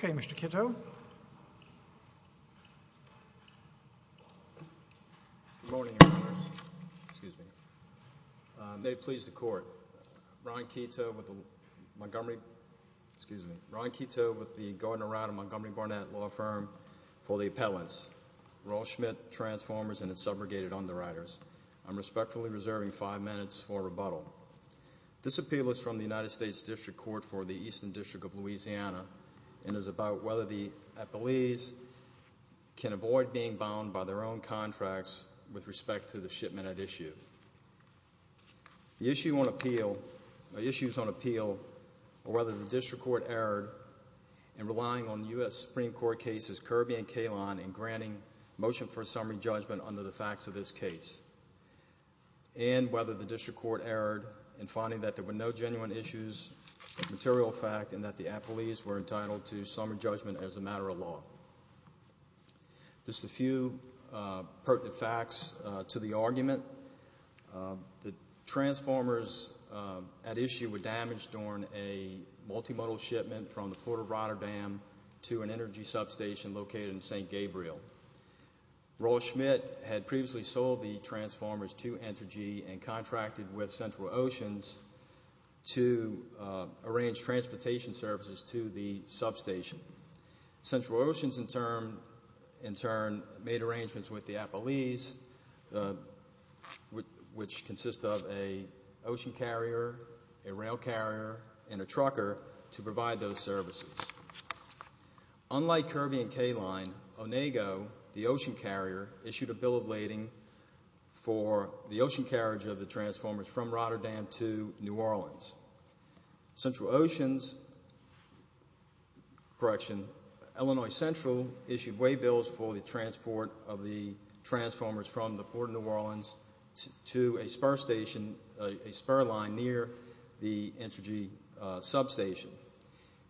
1 Good morning, Your Honors, excuse me. May it please the court, Ron Keto with the Montgomery, excuse me, Ron Keto with the Gordon Arata Montgomery Barnett Law Firm for the appellants, Roll Schmidt, Transformers, and the Subrogated Underwriters. I'm respectfully reserving five minutes for rebuttal. This appeal is from the United States District Court for the Eastern District of Louisiana and is about whether the appellees can avoid being bound by their own contracts with respect to the shipment at issue. The issue on appeal, or issues on appeal, are whether the District Court erred in relying on U.S. Supreme Court cases Kirby and Kahlon in granting motion for summary judgment under the facts of this case, and whether the District Court erred in finding that there were no entitlement to summary judgment as a matter of law. Just a few pertinent facts to the argument. The Transformers at issue were damaged during a multimodal shipment from the Port of Rotterdam to an energy substation located in St. Gabriel. Roll Schmidt had previously sold the Transformers to Entergy and contracted with Central Oceans to arrange transportation services to the substation. Central Oceans, in turn, made arrangements with the appellees, which consists of an ocean carrier, a rail carrier, and a trucker, to provide those services. Unlike Kirby and Kahlon, Onego, the ocean carrier, issued a bill of lading for the ocean carriage of the Transformers from Rotterdam to New Orleans. Central Oceans, Illinois Central, issued waybills for the transport of the Transformers from the Port of New Orleans to a spur line near the Entergy substation.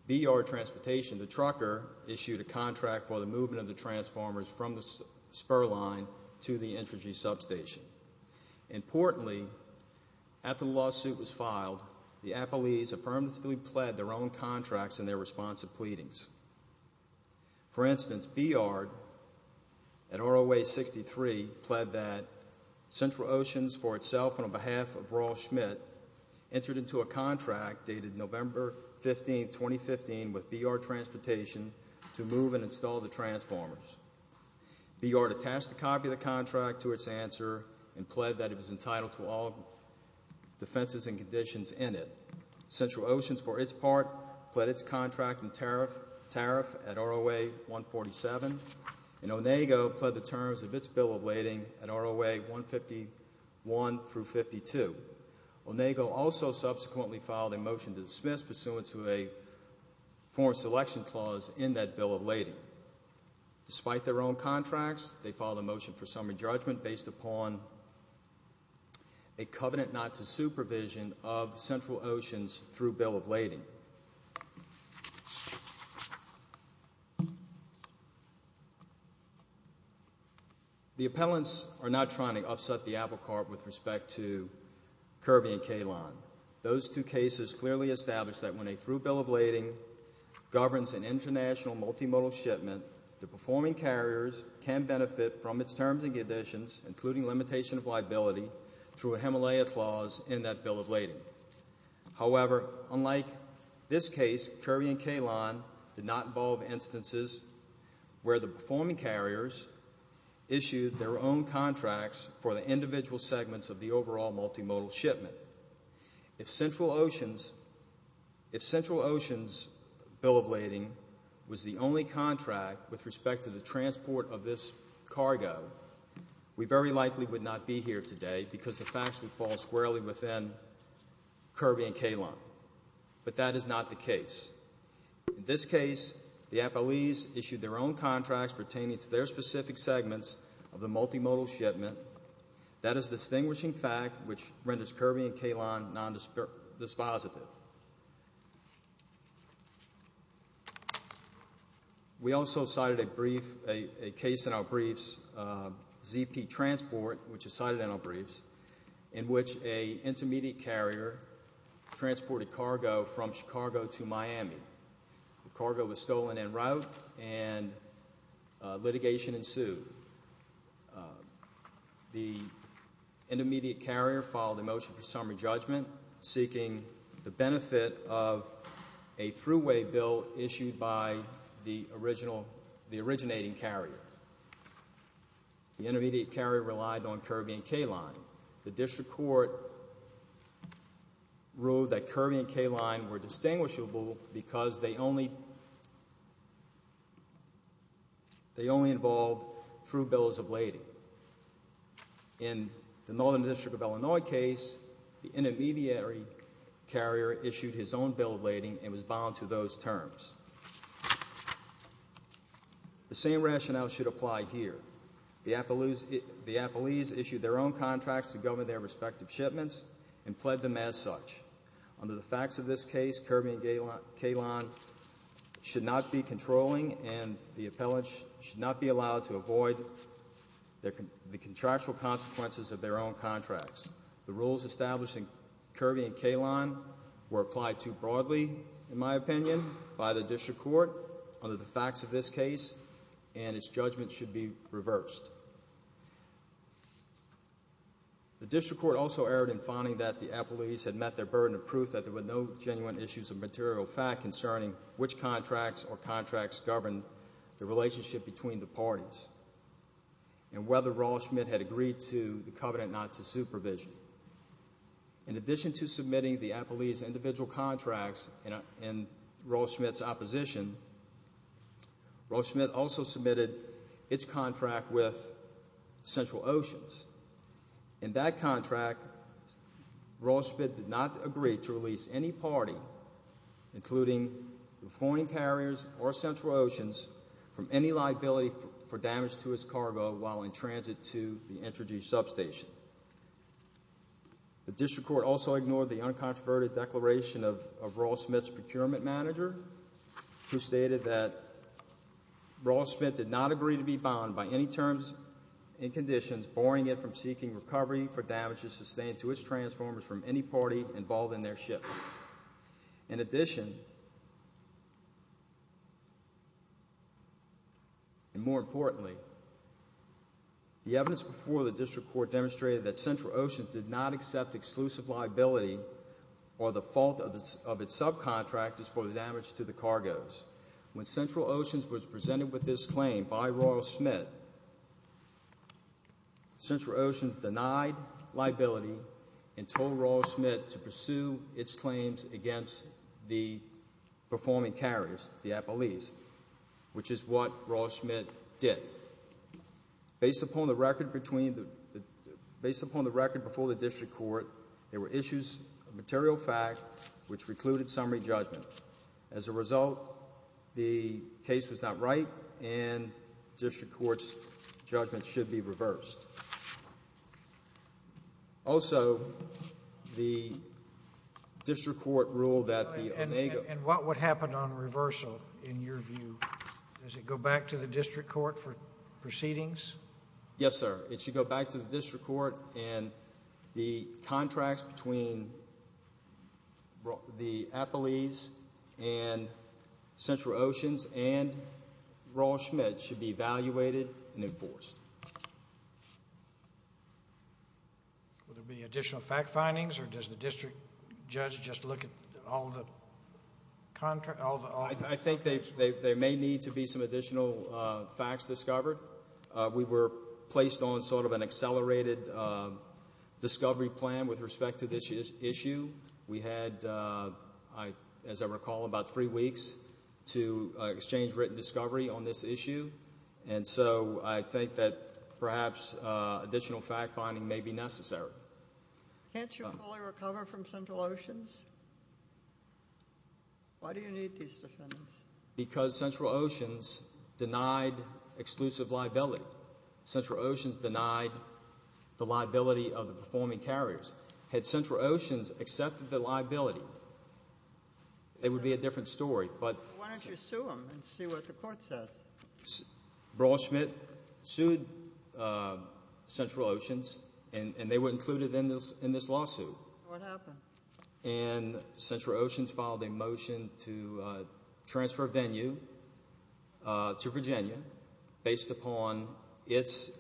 BR Transportation, the trucker, issued a contract for the movement of the Transformers from the spur line to the Entergy substation. Importantly, after the lawsuit was filed, the appellees affirmatively pled their own contracts in their response to pleadings. For instance, BR, at ROA 63, pled that Central Oceans, for itself and on behalf of Roll Schmidt, entered into a contract dated November 15, 2015, with BR Transportation to move and install the Transformers. BR attached a copy of the contract to its answer and pled that it was entitled to all defenses and conditions in it. Central Oceans, for its part, pled its contract and tariff at ROA 147, and Onego pled the terms of its bill of lading at ROA 151 through 52. Onego also subsequently filed a motion to dismiss pursuant to a foreign selection clause in that bill of lading. Despite their own contracts, they filed a motion for summary judgment based upon a covenant not to supervision of Central Oceans through bill of lading. The appellants are not trying to upset the apple cart with respect to Kirby and Kalon. Those two cases clearly establish that when a through bill of lading governs an international multimodal shipment, the performing carriers can benefit from its terms and conditions, including limitation of liability, through a Himalayan clause in that bill of lading. However, unlike this case, Kirby and Kalon did not involve instances where the performing carriers issued their own contracts for the individual segments of the overall multimodal shipment. If Central Oceans' bill of lading was the only contract with respect to the transport of this cargo, we very likely would not be here today because the facts would fall squarely within Kirby and Kalon. But that is not the case. In this case, the appellees issued their own contracts pertaining to their specific segments of the multimodal shipment. That is a distinguishing fact which renders Kirby and Kalon non-dispositive. We also cited a brief, a case in our briefs, ZP Transport, which is cited in our briefs, in which an intermediate carrier transported cargo from Chicago to Miami. The cargo was stolen en route and litigation ensued. The intermediate carrier filed a motion for summary judgment, seeking the benefit of a thruway bill issued by the originating carrier. The intermediate carrier relied on Kirby and Kalon. The district court ruled that Kirby and Kalon were distinguishable because they only involved thruway bills of lading. In the Northern District of Illinois case, the intermediary carrier issued his own bill of lading and was bound to those terms. The same rationale should apply here. The appellees issued their own contracts to govern their respective shipments and pled them as such. Under the facts of this case, Kirby and Kalon should not be controlling and the appellants should not be allowed to avoid the contractual consequences of their own contracts. The rules establishing Kirby and Kalon were applied too broadly, in my opinion, by the district court under the facts of this case and its judgment should be reversed. The district court also erred in finding that the appellees had met their burden of proof that there were no genuine issues of material fact concerning which contracts or contracts governed the relationship between the parties and whether Roll-Schmidt had agreed to the covenant not to supervision. In addition to submitting the appellees' individual contracts in Roll-Schmidt's opposition, Roll-Schmidt also submitted its contract with Central Oceans. In that contract, Roll-Schmidt did not agree to release any party, including the foreign carriers or Central Oceans, from any liability for damage to its cargo while in transit to the introduced substation. The district court also ignored the uncontroverted declaration of Roll-Schmidt's procurement manager, who stated that Roll-Schmidt did not agree to be bound by any terms and conditions barring it from seeking recovery for damages sustained to its transformers from any party involved in their ship. In addition, and more importantly, the evidence before the district court demonstrated that Central Oceans did not accept exclusive liability or the fault of its subcontractors for the damage to the cargoes. When Central Oceans was presented with this claim by Roll-Schmidt, Central Oceans denied liability and told Roll-Schmidt to pursue its claims against the performing carriers, the appellees, which is what Roll-Schmidt did. Based upon the record before the district court, there were issues of material fact which recluded summary judgment. As a result, the case was not right, and district court's judgment should be reversed. Also, the district court ruled that the Onego— And what would happen on reversal, in your view? Does it go back to the district court for proceedings? Yes, sir. It should go back to the district court, and the contracts between the appellees and Central Oceans and Roll-Schmidt should be evaluated and enforced. Will there be additional fact findings, or does the district judge just look at all the contracts? I think there may need to be some additional facts discovered. We were placed on sort of an accelerated discovery plan with respect to this issue. We had, as I recall, about three weeks to exchange written discovery on this issue, and so I think that perhaps additional fact finding may be necessary. Can't you fully recover from Central Oceans? Why do you need these defendants? Because Central Oceans denied exclusive liability. Central Oceans denied the liability of the performing carriers. Had Central Oceans accepted the liability, it would be a different story. Why don't you sue them and see what the court says? Roll-Schmidt sued Central Oceans, and they were included in this lawsuit. What happened? Central Oceans filed a motion to transfer Venue to Virginia based upon its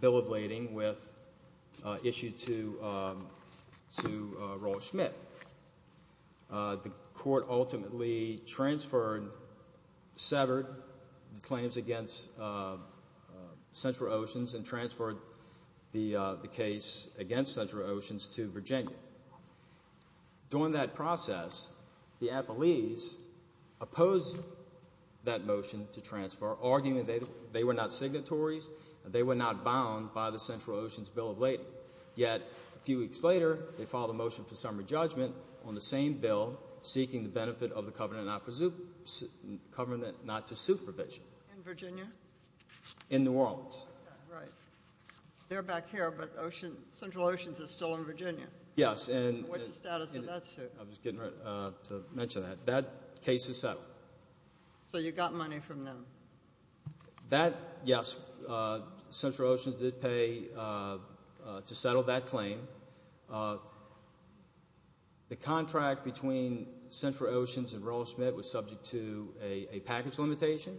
bill of lading with issue to Roll-Schmidt. The court ultimately transferred, severed claims against Central Oceans and transferred the case against Central Oceans to Virginia. During that process, the Appellees opposed that motion to transfer, arguing that they were not signatories, they were not bound by the Central Oceans bill of lading. Yet, a few weeks later, they filed a motion for summary judgment on the same bill seeking the benefit of the covenant not to sue provision. In Virginia? In New Orleans. Right. They're back here, but Central Oceans is still in Virginia. Yes. What's the status of that suit? I was getting ready to mention that. That case is settled. So you got money from them? Yes. Central Oceans did pay to settle that claim. The contract between Central Oceans and Roll-Schmidt was subject to a package limitation.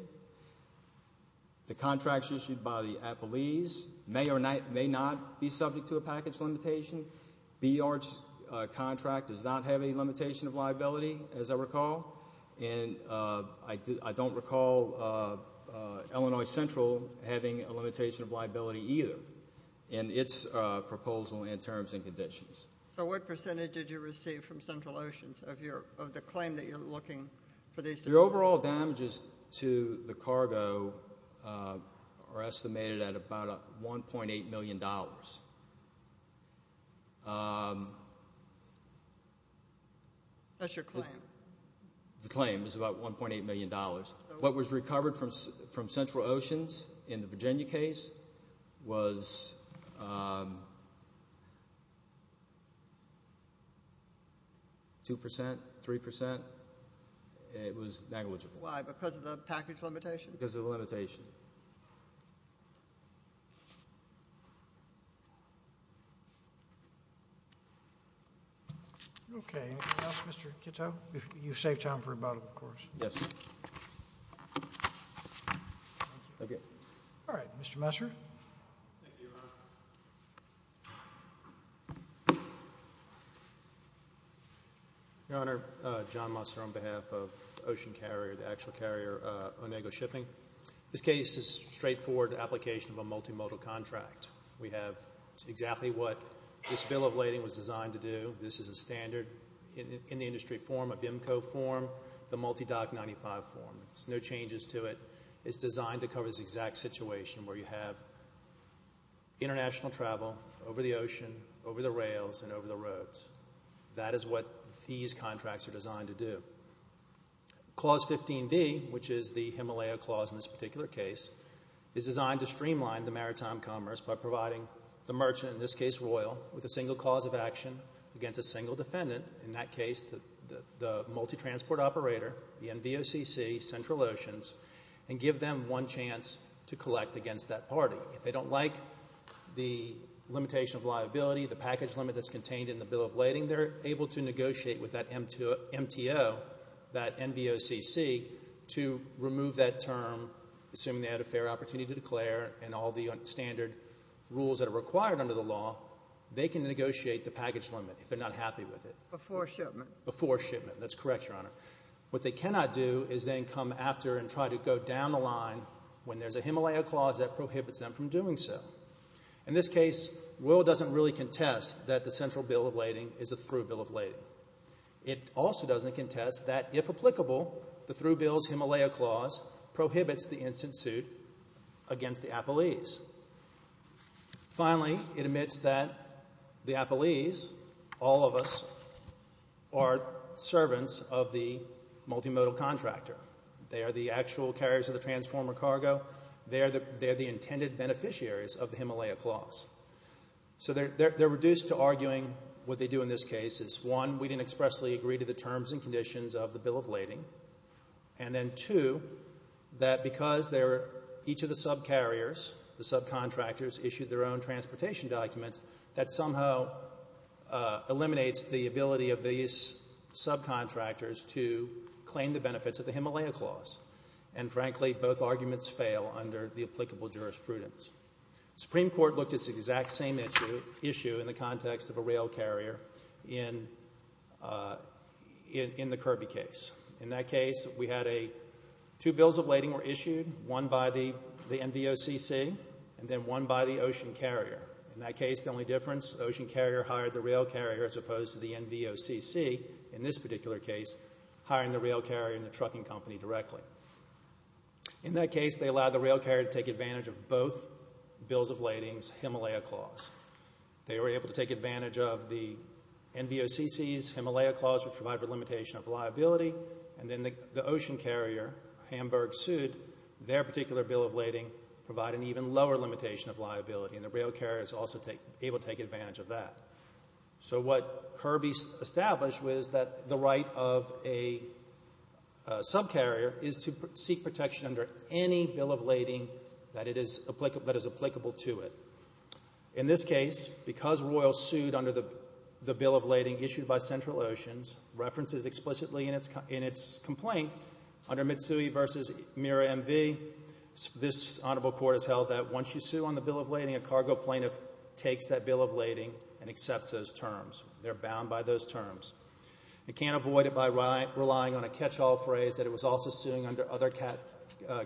The contracts issued by the Appellees may or may not be subject to a package limitation. Beard's contract does not have a limitation of liability, as I recall. And I don't recall Illinois Central having a limitation of liability either in its proposal and terms and conditions. So what percentage did you receive from Central Oceans of the claim that you're looking for these to be paid to? The overall damages to the cargo are estimated at about $1.8 million. That's your claim? The claim is about $1.8 million. What was recovered from Central Oceans in the Virginia case was 2 percent, 3 percent. It was negligible. Why? Because of the package limitation? Because of the limitation. Okay. Mr. Kitto, you saved time for rebuttal, of course. Yes, sir. Mr. Messer. Thank you, Your Honor. Your Honor, John Messer on behalf of Ocean Carrier, the actual carrier, Onego Shipping. This case is a straightforward application of a multimodal contract. We have exactly what this bill of lading was designed to do. This is a standard in the industry form, a BIMCO form, the multi-DOC 95 form. There's no changes to it. It's designed to cover this exact situation where you have international travel over the ocean, over the rails, and over the roads. That is what these contracts are designed to do. Clause 15B, which is the Himalaya clause in this particular case, is designed to streamline the maritime commerce by providing the merchant, in this case Royal, with a single cause of action against a single defendant, in that case the multi-transport operator, the NVOCC, Central Oceans, and give them one chance to collect against that party. If they don't like the limitation of liability, the package limit that's contained in the bill of lading, they're able to negotiate with that MTO, that NVOCC, to remove that term. Assuming they had a fair opportunity to declare and all the standard rules that are required under the law, they can negotiate the package limit if they're not happy with it. Before shipment? Before shipment. That's correct, Your Honor. What they cannot do is then come after and try to go down the line when there's a Himalaya clause that prohibits them from doing so. In this case, Will doesn't really contest that the central bill of lading is a through bill of lading. It also doesn't contest that, if applicable, the through bill's Himalaya clause prohibits the instant suit against the Appellees. Finally, it admits that the Appellees, all of us, are servants of the multimodal contractor. They are the actual carriers of the transformer cargo. They are the intended beneficiaries of the Himalaya clause. So they're reduced to arguing what they do in this case is, one, we didn't expressly agree to the terms and conditions of the bill of lading, and then, two, that because each of the subcarriers, the subcontractors, issued their own transportation documents, that somehow eliminates the ability of these subcontractors to claim the benefits of the Himalaya clause. And, frankly, both arguments fail under the applicable jurisprudence. The Supreme Court looked at this exact same issue in the context of a rail carrier in the Kirby case. In that case, we had two bills of lading were issued, one by the NVOCC, and then one by the ocean carrier. In that case, the only difference, the ocean carrier hired the rail carrier as opposed to the NVOCC, in this particular case, hiring the rail carrier and the trucking company directly. In that case, they allowed the rail carrier to take advantage of both bills of lading's Himalaya clause. They were able to take advantage of the NVOCC's Himalaya clause, which provided a limitation of liability, and then the ocean carrier, Hamburg, sued. Their particular bill of lading provided an even lower limitation of liability, and the rail carrier was also able to take advantage of that. So what Kirby established was that the right of a subcarrier is to seek protection under any bill of lading that is applicable to it. In this case, because Royal sued under the bill of lading issued by Central Oceans, references explicitly in its complaint under Mitsui v. Mira MV, this honorable court has held that once you sue on the bill of lading, a cargo plaintiff takes that bill of lading and accepts those terms. They're bound by those terms. They can't avoid it by relying on a catch-all phrase that it was also suing under other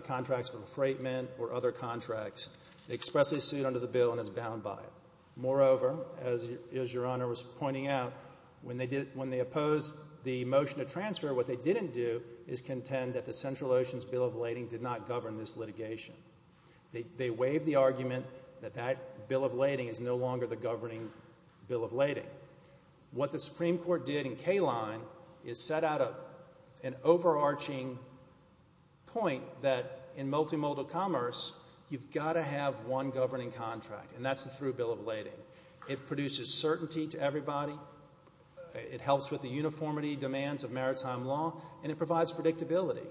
contracts for the freight men or other contracts. They expressly sued under the bill and is bound by it. Moreover, as Your Honor was pointing out, when they opposed the motion to transfer, what they didn't do is contend that the Central Oceans bill of lading did not govern this litigation. They waived the argument that that bill of lading is no longer the governing bill of lading. What the Supreme Court did in Kline is set out an overarching point that in multimodal commerce, you've got to have one governing contract, and that's the through bill of lading. It produces certainty to everybody. It helps with the uniformity demands of maritime law, and it provides predictability.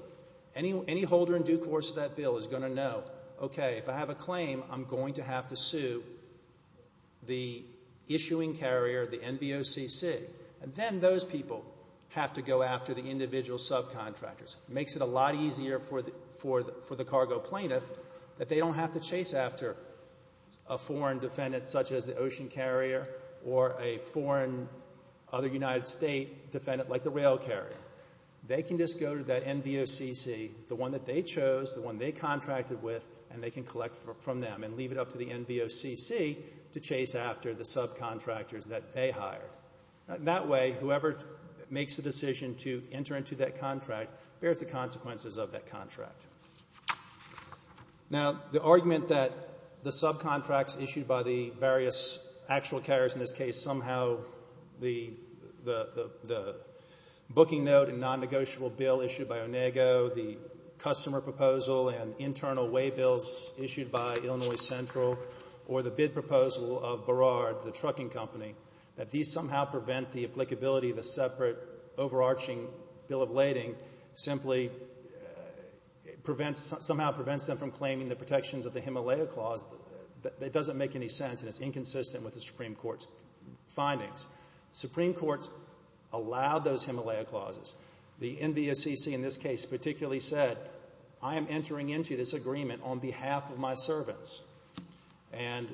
Any holder in due course of that bill is going to know, okay, if I have a claim, I'm going to have to sue the issuing carrier, the NVOCC, and then those people have to go after the individual subcontractors. It makes it a lot easier for the cargo plaintiff that they don't have to chase after a foreign defendant such as the ocean carrier or a foreign other United States defendant like the rail carrier. They can just go to that NVOCC, the one that they chose, the one they contracted with, and they can collect from them and leave it up to the NVOCC to chase after the subcontractors that they hired. That way, whoever makes the decision to enter into that contract bears the consequences of that contract. Now, the argument that the subcontracts issued by the various actual carriers, perhaps in this case somehow the booking note and non-negotiable bill issued by Onego, the customer proposal and internal way bills issued by Illinois Central, or the bid proposal of Burrard, the trucking company, that these somehow prevent the applicability of a separate overarching bill of lading simply somehow prevents them from claiming the protections of the Himalaya Clause, it doesn't make any sense, and it's inconsistent with the Supreme Court's findings. The Supreme Court allowed those Himalaya Clauses. The NVOCC in this case particularly said, I am entering into this agreement on behalf of my servants, and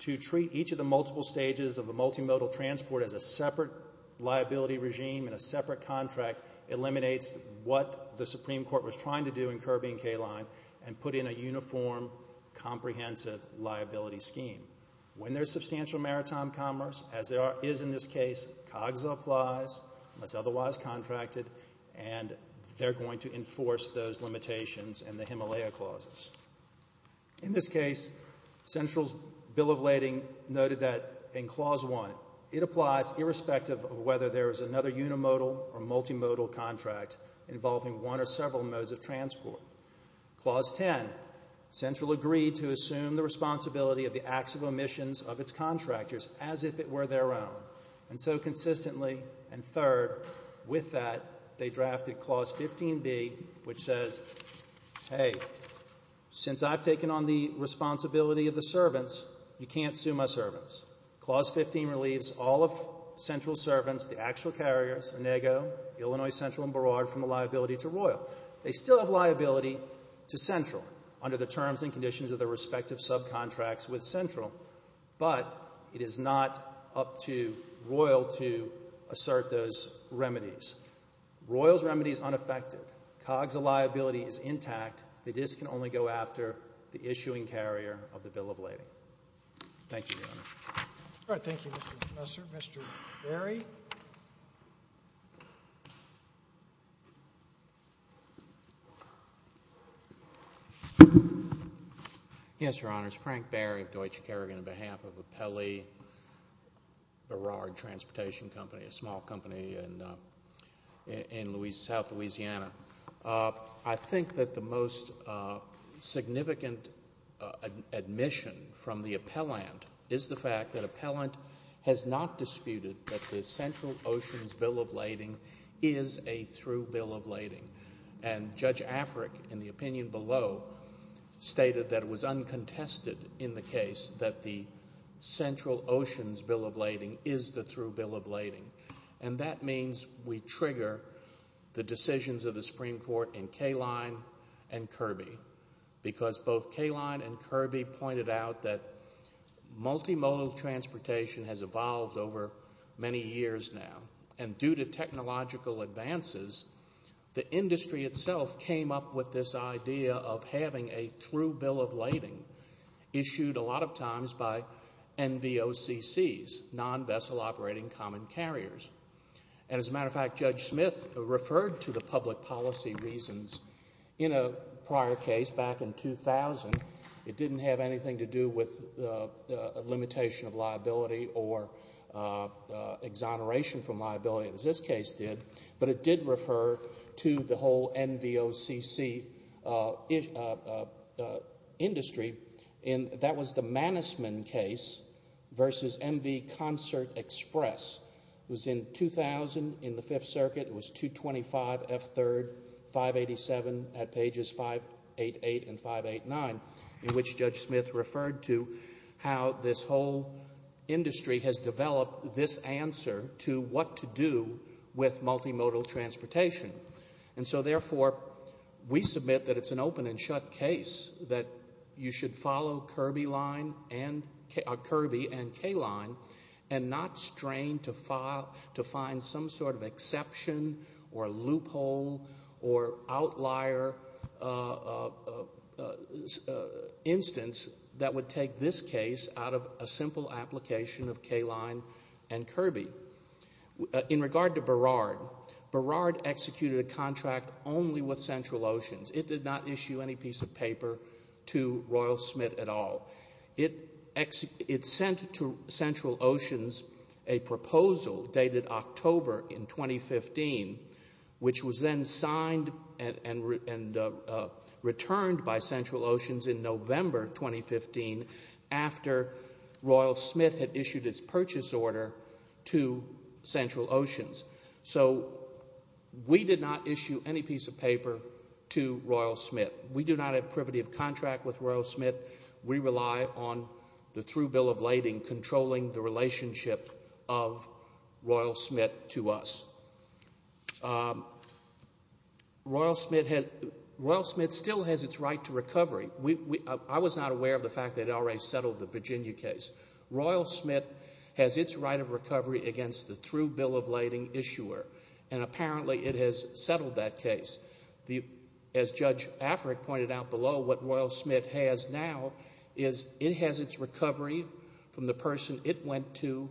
to treat each of the multiple stages of a multimodal transport as a separate liability regime and a separate contract eliminates what the Supreme Court was trying to do in Kirby and Kline and put in a uniform, comprehensive liability scheme. When there's substantial maritime commerce, as there is in this case, COGSA applies, unless otherwise contracted, and they're going to enforce those limitations and the Himalaya Clauses. In this case, Central's bill of lading noted that in Clause 1, it applies irrespective of whether there is another unimodal or multimodal contract involving one or several modes of transport. Clause 10, Central agreed to assume the responsibility of the acts of omissions of its contractors as if it were their own, and so consistently, and third, with that, they drafted Clause 15B, which says, hey, since I've taken on the responsibility of the servants, you can't sue my servants. Clause 15 relieves all of Central's servants, the actual carriers, Onego, Illinois Central, and Burrard, from a liability to Royal. They still have liability to Central under the terms and conditions of their respective subcontracts with Central, but it is not up to Royal to assert those remedies. Royal's remedy is unaffected. COGSA liability is intact. They just can only go after the issuing carrier of the bill of lading. Thank you, Your Honor. All right. Thank you, Mr. Professor. Mr. Berry? Yes, Your Honors. Frank Berry of Deutsche Kerrigan on behalf of Appelli Burrard Transportation Company, a small company in south Louisiana. I think that the most significant admission from the appellant is the fact that appellant has not disputed that the Central Oceans Bill of Lading is a through bill of lading, and Judge Afric, in the opinion below, stated that it was uncontested in the case that the Central Oceans Bill of Lading is the through bill of lading, and that means we trigger the decisions of the Supreme Court in Kaline and Kirby because both Kaline and Kirby pointed out that multimodal transportation has evolved over many years now, and due to technological advances, the industry itself came up with this idea of having a through bill of lading issued a lot of times by NVOCCs, non-vessel operating common carriers. And as a matter of fact, Judge Smith referred to the public policy reasons in a prior case back in 2000. It didn't have anything to do with a limitation of liability or exoneration from liability, as this case did, but it did refer to the whole NVOCC industry, and that was the Mannesman case versus MV Concert Express. It was in 2000 in the Fifth Circuit. It was 225F3, 587 at pages 588 and 589, in which Judge Smith referred to how this whole industry has developed this answer to what to do with multimodal transportation. And so therefore, we submit that it's an open and shut case that you should follow Kirby and Kaline and not strain to find some sort of exception or loophole or outlier instance that would take this case out of a simple application of Kaline and Kirby. In regard to Burrard, Burrard executed a contract only with Central Oceans. It did not issue any piece of paper to Royal Smith at all. It sent to Central Oceans a proposal dated October in 2015, which was then signed and returned by Central Oceans in November 2015 after Royal Smith had issued its purchase order to Central Oceans. So we did not issue any piece of paper to Royal Smith. We do not have privity of contract with Royal Smith. We rely on the through bill of lading controlling the relationship of Royal Smith to us. Royal Smith still has its right to recovery. I was not aware of the fact that it had already settled the Virginia case. Royal Smith has its right of recovery against the through bill of lading issuer, and apparently it has settled that case. As Judge Afric pointed out below, what Royal Smith has now is it has its recovery from the person it went to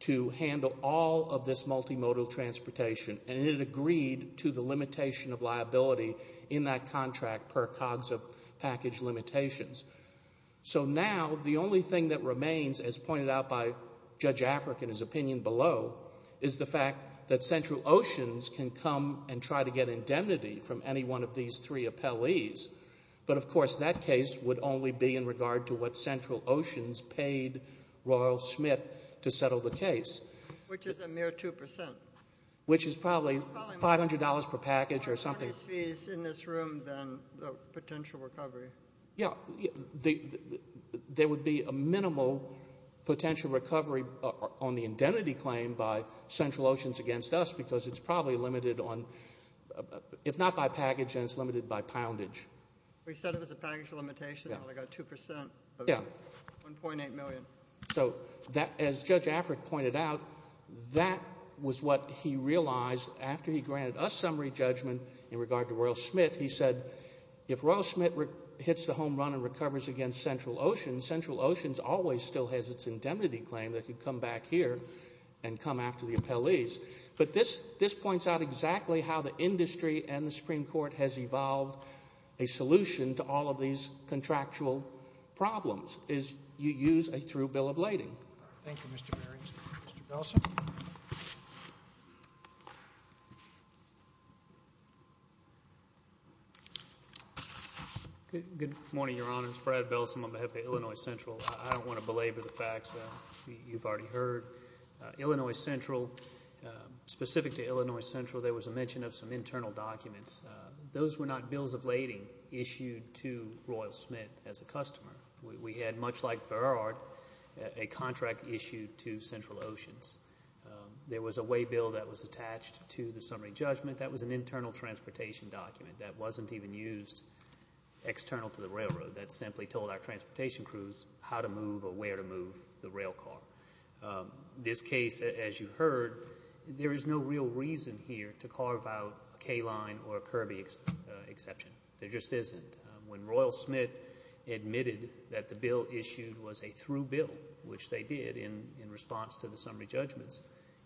to handle all of this multimodal transportation, and it agreed to the limitation of liability in that contract per COGS of package limitations. So now the only thing that remains, as pointed out by Judge Afric in his opinion below, is the fact that Central Oceans can come and try to get indemnity from any one of these three appellees. But, of course, that case would only be in regard to what Central Oceans paid Royal Smith to settle the case. Which is a mere 2%. Which is probably $500 per package or something. How much more is fees in this room than the potential recovery? Yeah, there would be a minimal potential recovery on the indemnity claim by Central Oceans against us because it's probably limited on, if not by package, then it's limited by poundage. You said it was a package limitation? Yeah. They got 2% of 1.8 million. So, as Judge Afric pointed out, that was what he realized after he granted us summary judgment in regard to Royal Smith. He said if Royal Smith hits the home run and recovers against Central Oceans, Central Oceans always still has its indemnity claim. They can come back here and come after the appellees. But this points out exactly how the industry and the Supreme Court has evolved a solution to all of these contractual problems, is you use a through bill of lading. Thank you, Mr. Berry. Mr. Nelson? Good morning, Your Honors. Brad Bellson on behalf of Illinois Central. I don't want to belabor the facts that you've already heard. Illinois Central, specific to Illinois Central, there was a mention of some internal documents. Those were not bills of lading issued to Royal Smith as a customer. We had, much like Burrard, a contract issued to Central Oceans. There was a way bill that was attached to the summary judgment. That was an internal transportation document. That wasn't even used external to the railroad. That simply told our transportation crews how to move or where to move the rail car. This case, as you heard, there is no real reason here to carve out a K-line or a Kirby exception. There just isn't. When Royal Smith admitted that the bill issued was a through bill, which they did in response to the summary judgments,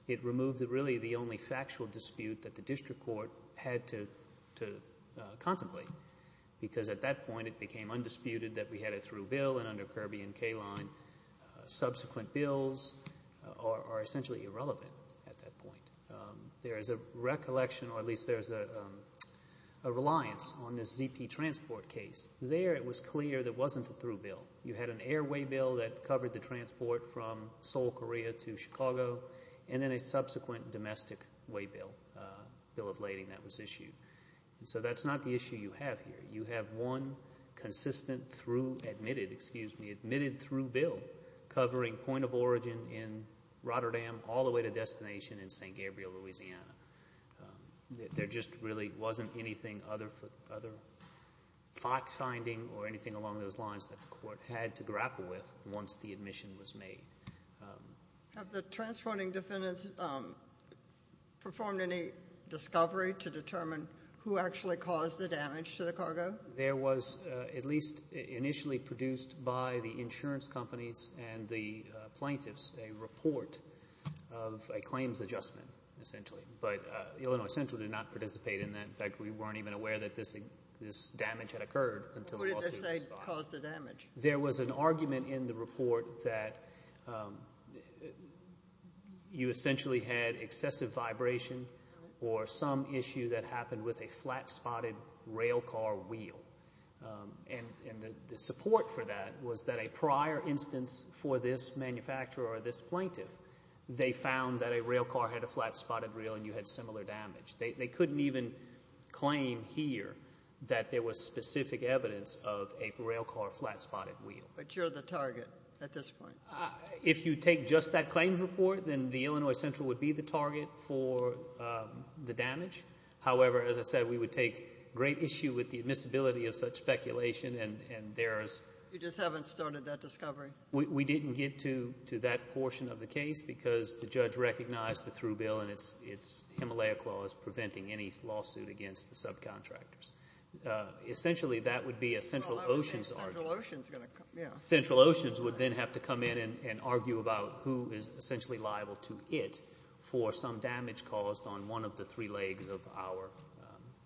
it removed really the only factual dispute that the district court had to contemplate because at that point it became undisputed that we had a through bill, and under Kirby and K-line subsequent bills are essentially irrelevant at that point. There is a recollection, or at least there is a reliance on this ZP transport case. There it was clear there wasn't a through bill. You had an airway bill that covered the transport from Seoul, Korea to Chicago, and then a subsequent domestic way bill, bill of lading that was issued. So that's not the issue you have here. You have one consistent through admitted, excuse me, admitted through bill covering point of origin in Rotterdam all the way to destination in St. Gabriel, Louisiana. There just really wasn't anything other than fact-finding or anything along those lines that the court had to grapple with once the admission was made. Have the transporting defendants performed any discovery to determine who actually caused the damage to the cargo? There was, at least initially produced by the insurance companies and the plaintiffs, a report of a claims adjustment essentially. But Illinois Central did not participate in that. In fact, we weren't even aware that this damage had occurred until the lawsuit was filed. Who did they say caused the damage? There was an argument in the report that you essentially had excessive vibration or some issue that happened with a flat-spotted rail car wheel. And the support for that was that a prior instance for this manufacturer or this plaintiff, they found that a rail car had a flat-spotted rail and you had similar damage. They couldn't even claim here that there was specific evidence of a rail car flat-spotted wheel. But you're the target at this point. If you take just that claims report, then the Illinois Central would be the target for the damage. However, as I said, we would take great issue with the admissibility of such speculation. You just haven't started that discovery. We didn't get to that portion of the case because the judge recognized the through bill and its Himalaya clause preventing any lawsuit against the subcontractors. Essentially, that would be a Central Oceans argument. Central Oceans would then have to come in and argue about who is essentially liable to it for some damage caused on one of the three legs of our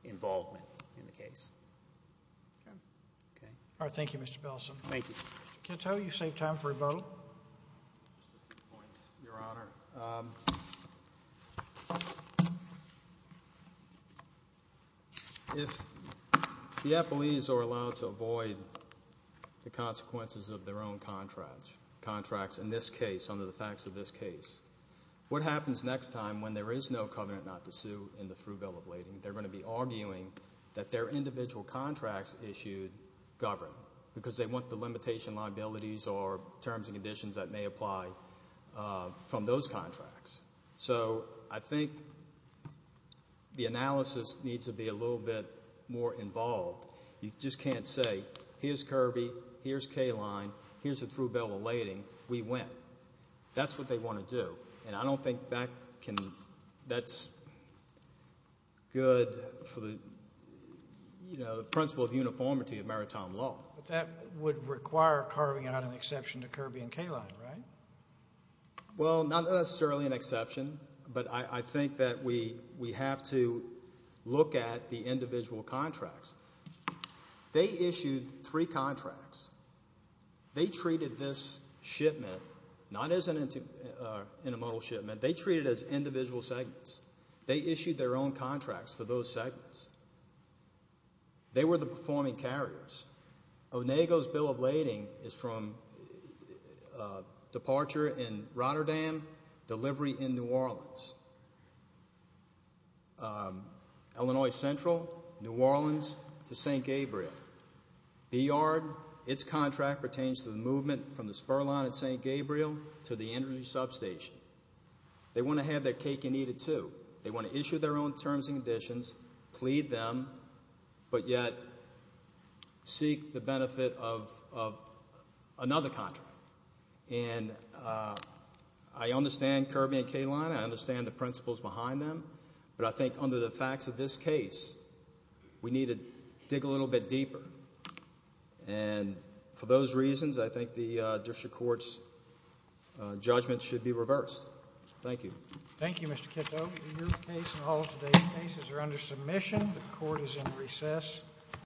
involvement in the case. Okay. All right. Thank you, Mr. Bellson. Thank you. Mr. Kitto, you've saved time for a vote. Your Honor, if the appellees are allowed to avoid the consequences of their own contracts, in this case, under the facts of this case, what happens next time when there is no covenant not to sue in the through bill of lading? They're going to be arguing that their individual contracts issued govern because they want the limitation liabilities or terms and conditions that may apply from those contracts. So I think the analysis needs to be a little bit more involved. You just can't say, here's Kirby, here's K-Line, here's the through bill of lading, we win. That's what they want to do. And I don't think that's good for the principle of uniformity of maritime law. But that would require carving out an exception to Kirby and K-Line, right? Well, not necessarily an exception, but I think that we have to look at the individual contracts. They issued three contracts. They treated this shipment not as an intermodal shipment. They treated it as individual segments. They issued their own contracts for those segments. They were the performing carriers. Onego's bill of lading is from departure in Rotterdam, delivery in New Orleans. Illinois Central, New Orleans to St. Gabriel. B-Yard, its contract pertains to the movement from the spur line at St. Gabriel to the energy substation. They want to have that cake and eat it too. They want to issue their own terms and conditions, plead them, but yet seek the benefit of another contract. And I understand Kirby and K-Line. I understand the principles behind them. But I think under the facts of this case, we need to dig a little bit deeper. And for those reasons, I think the district court's judgment should be reversed. Thank you. Thank you, Mr. Kiddo. Your case and all of today's cases are under submission. The court is in recess.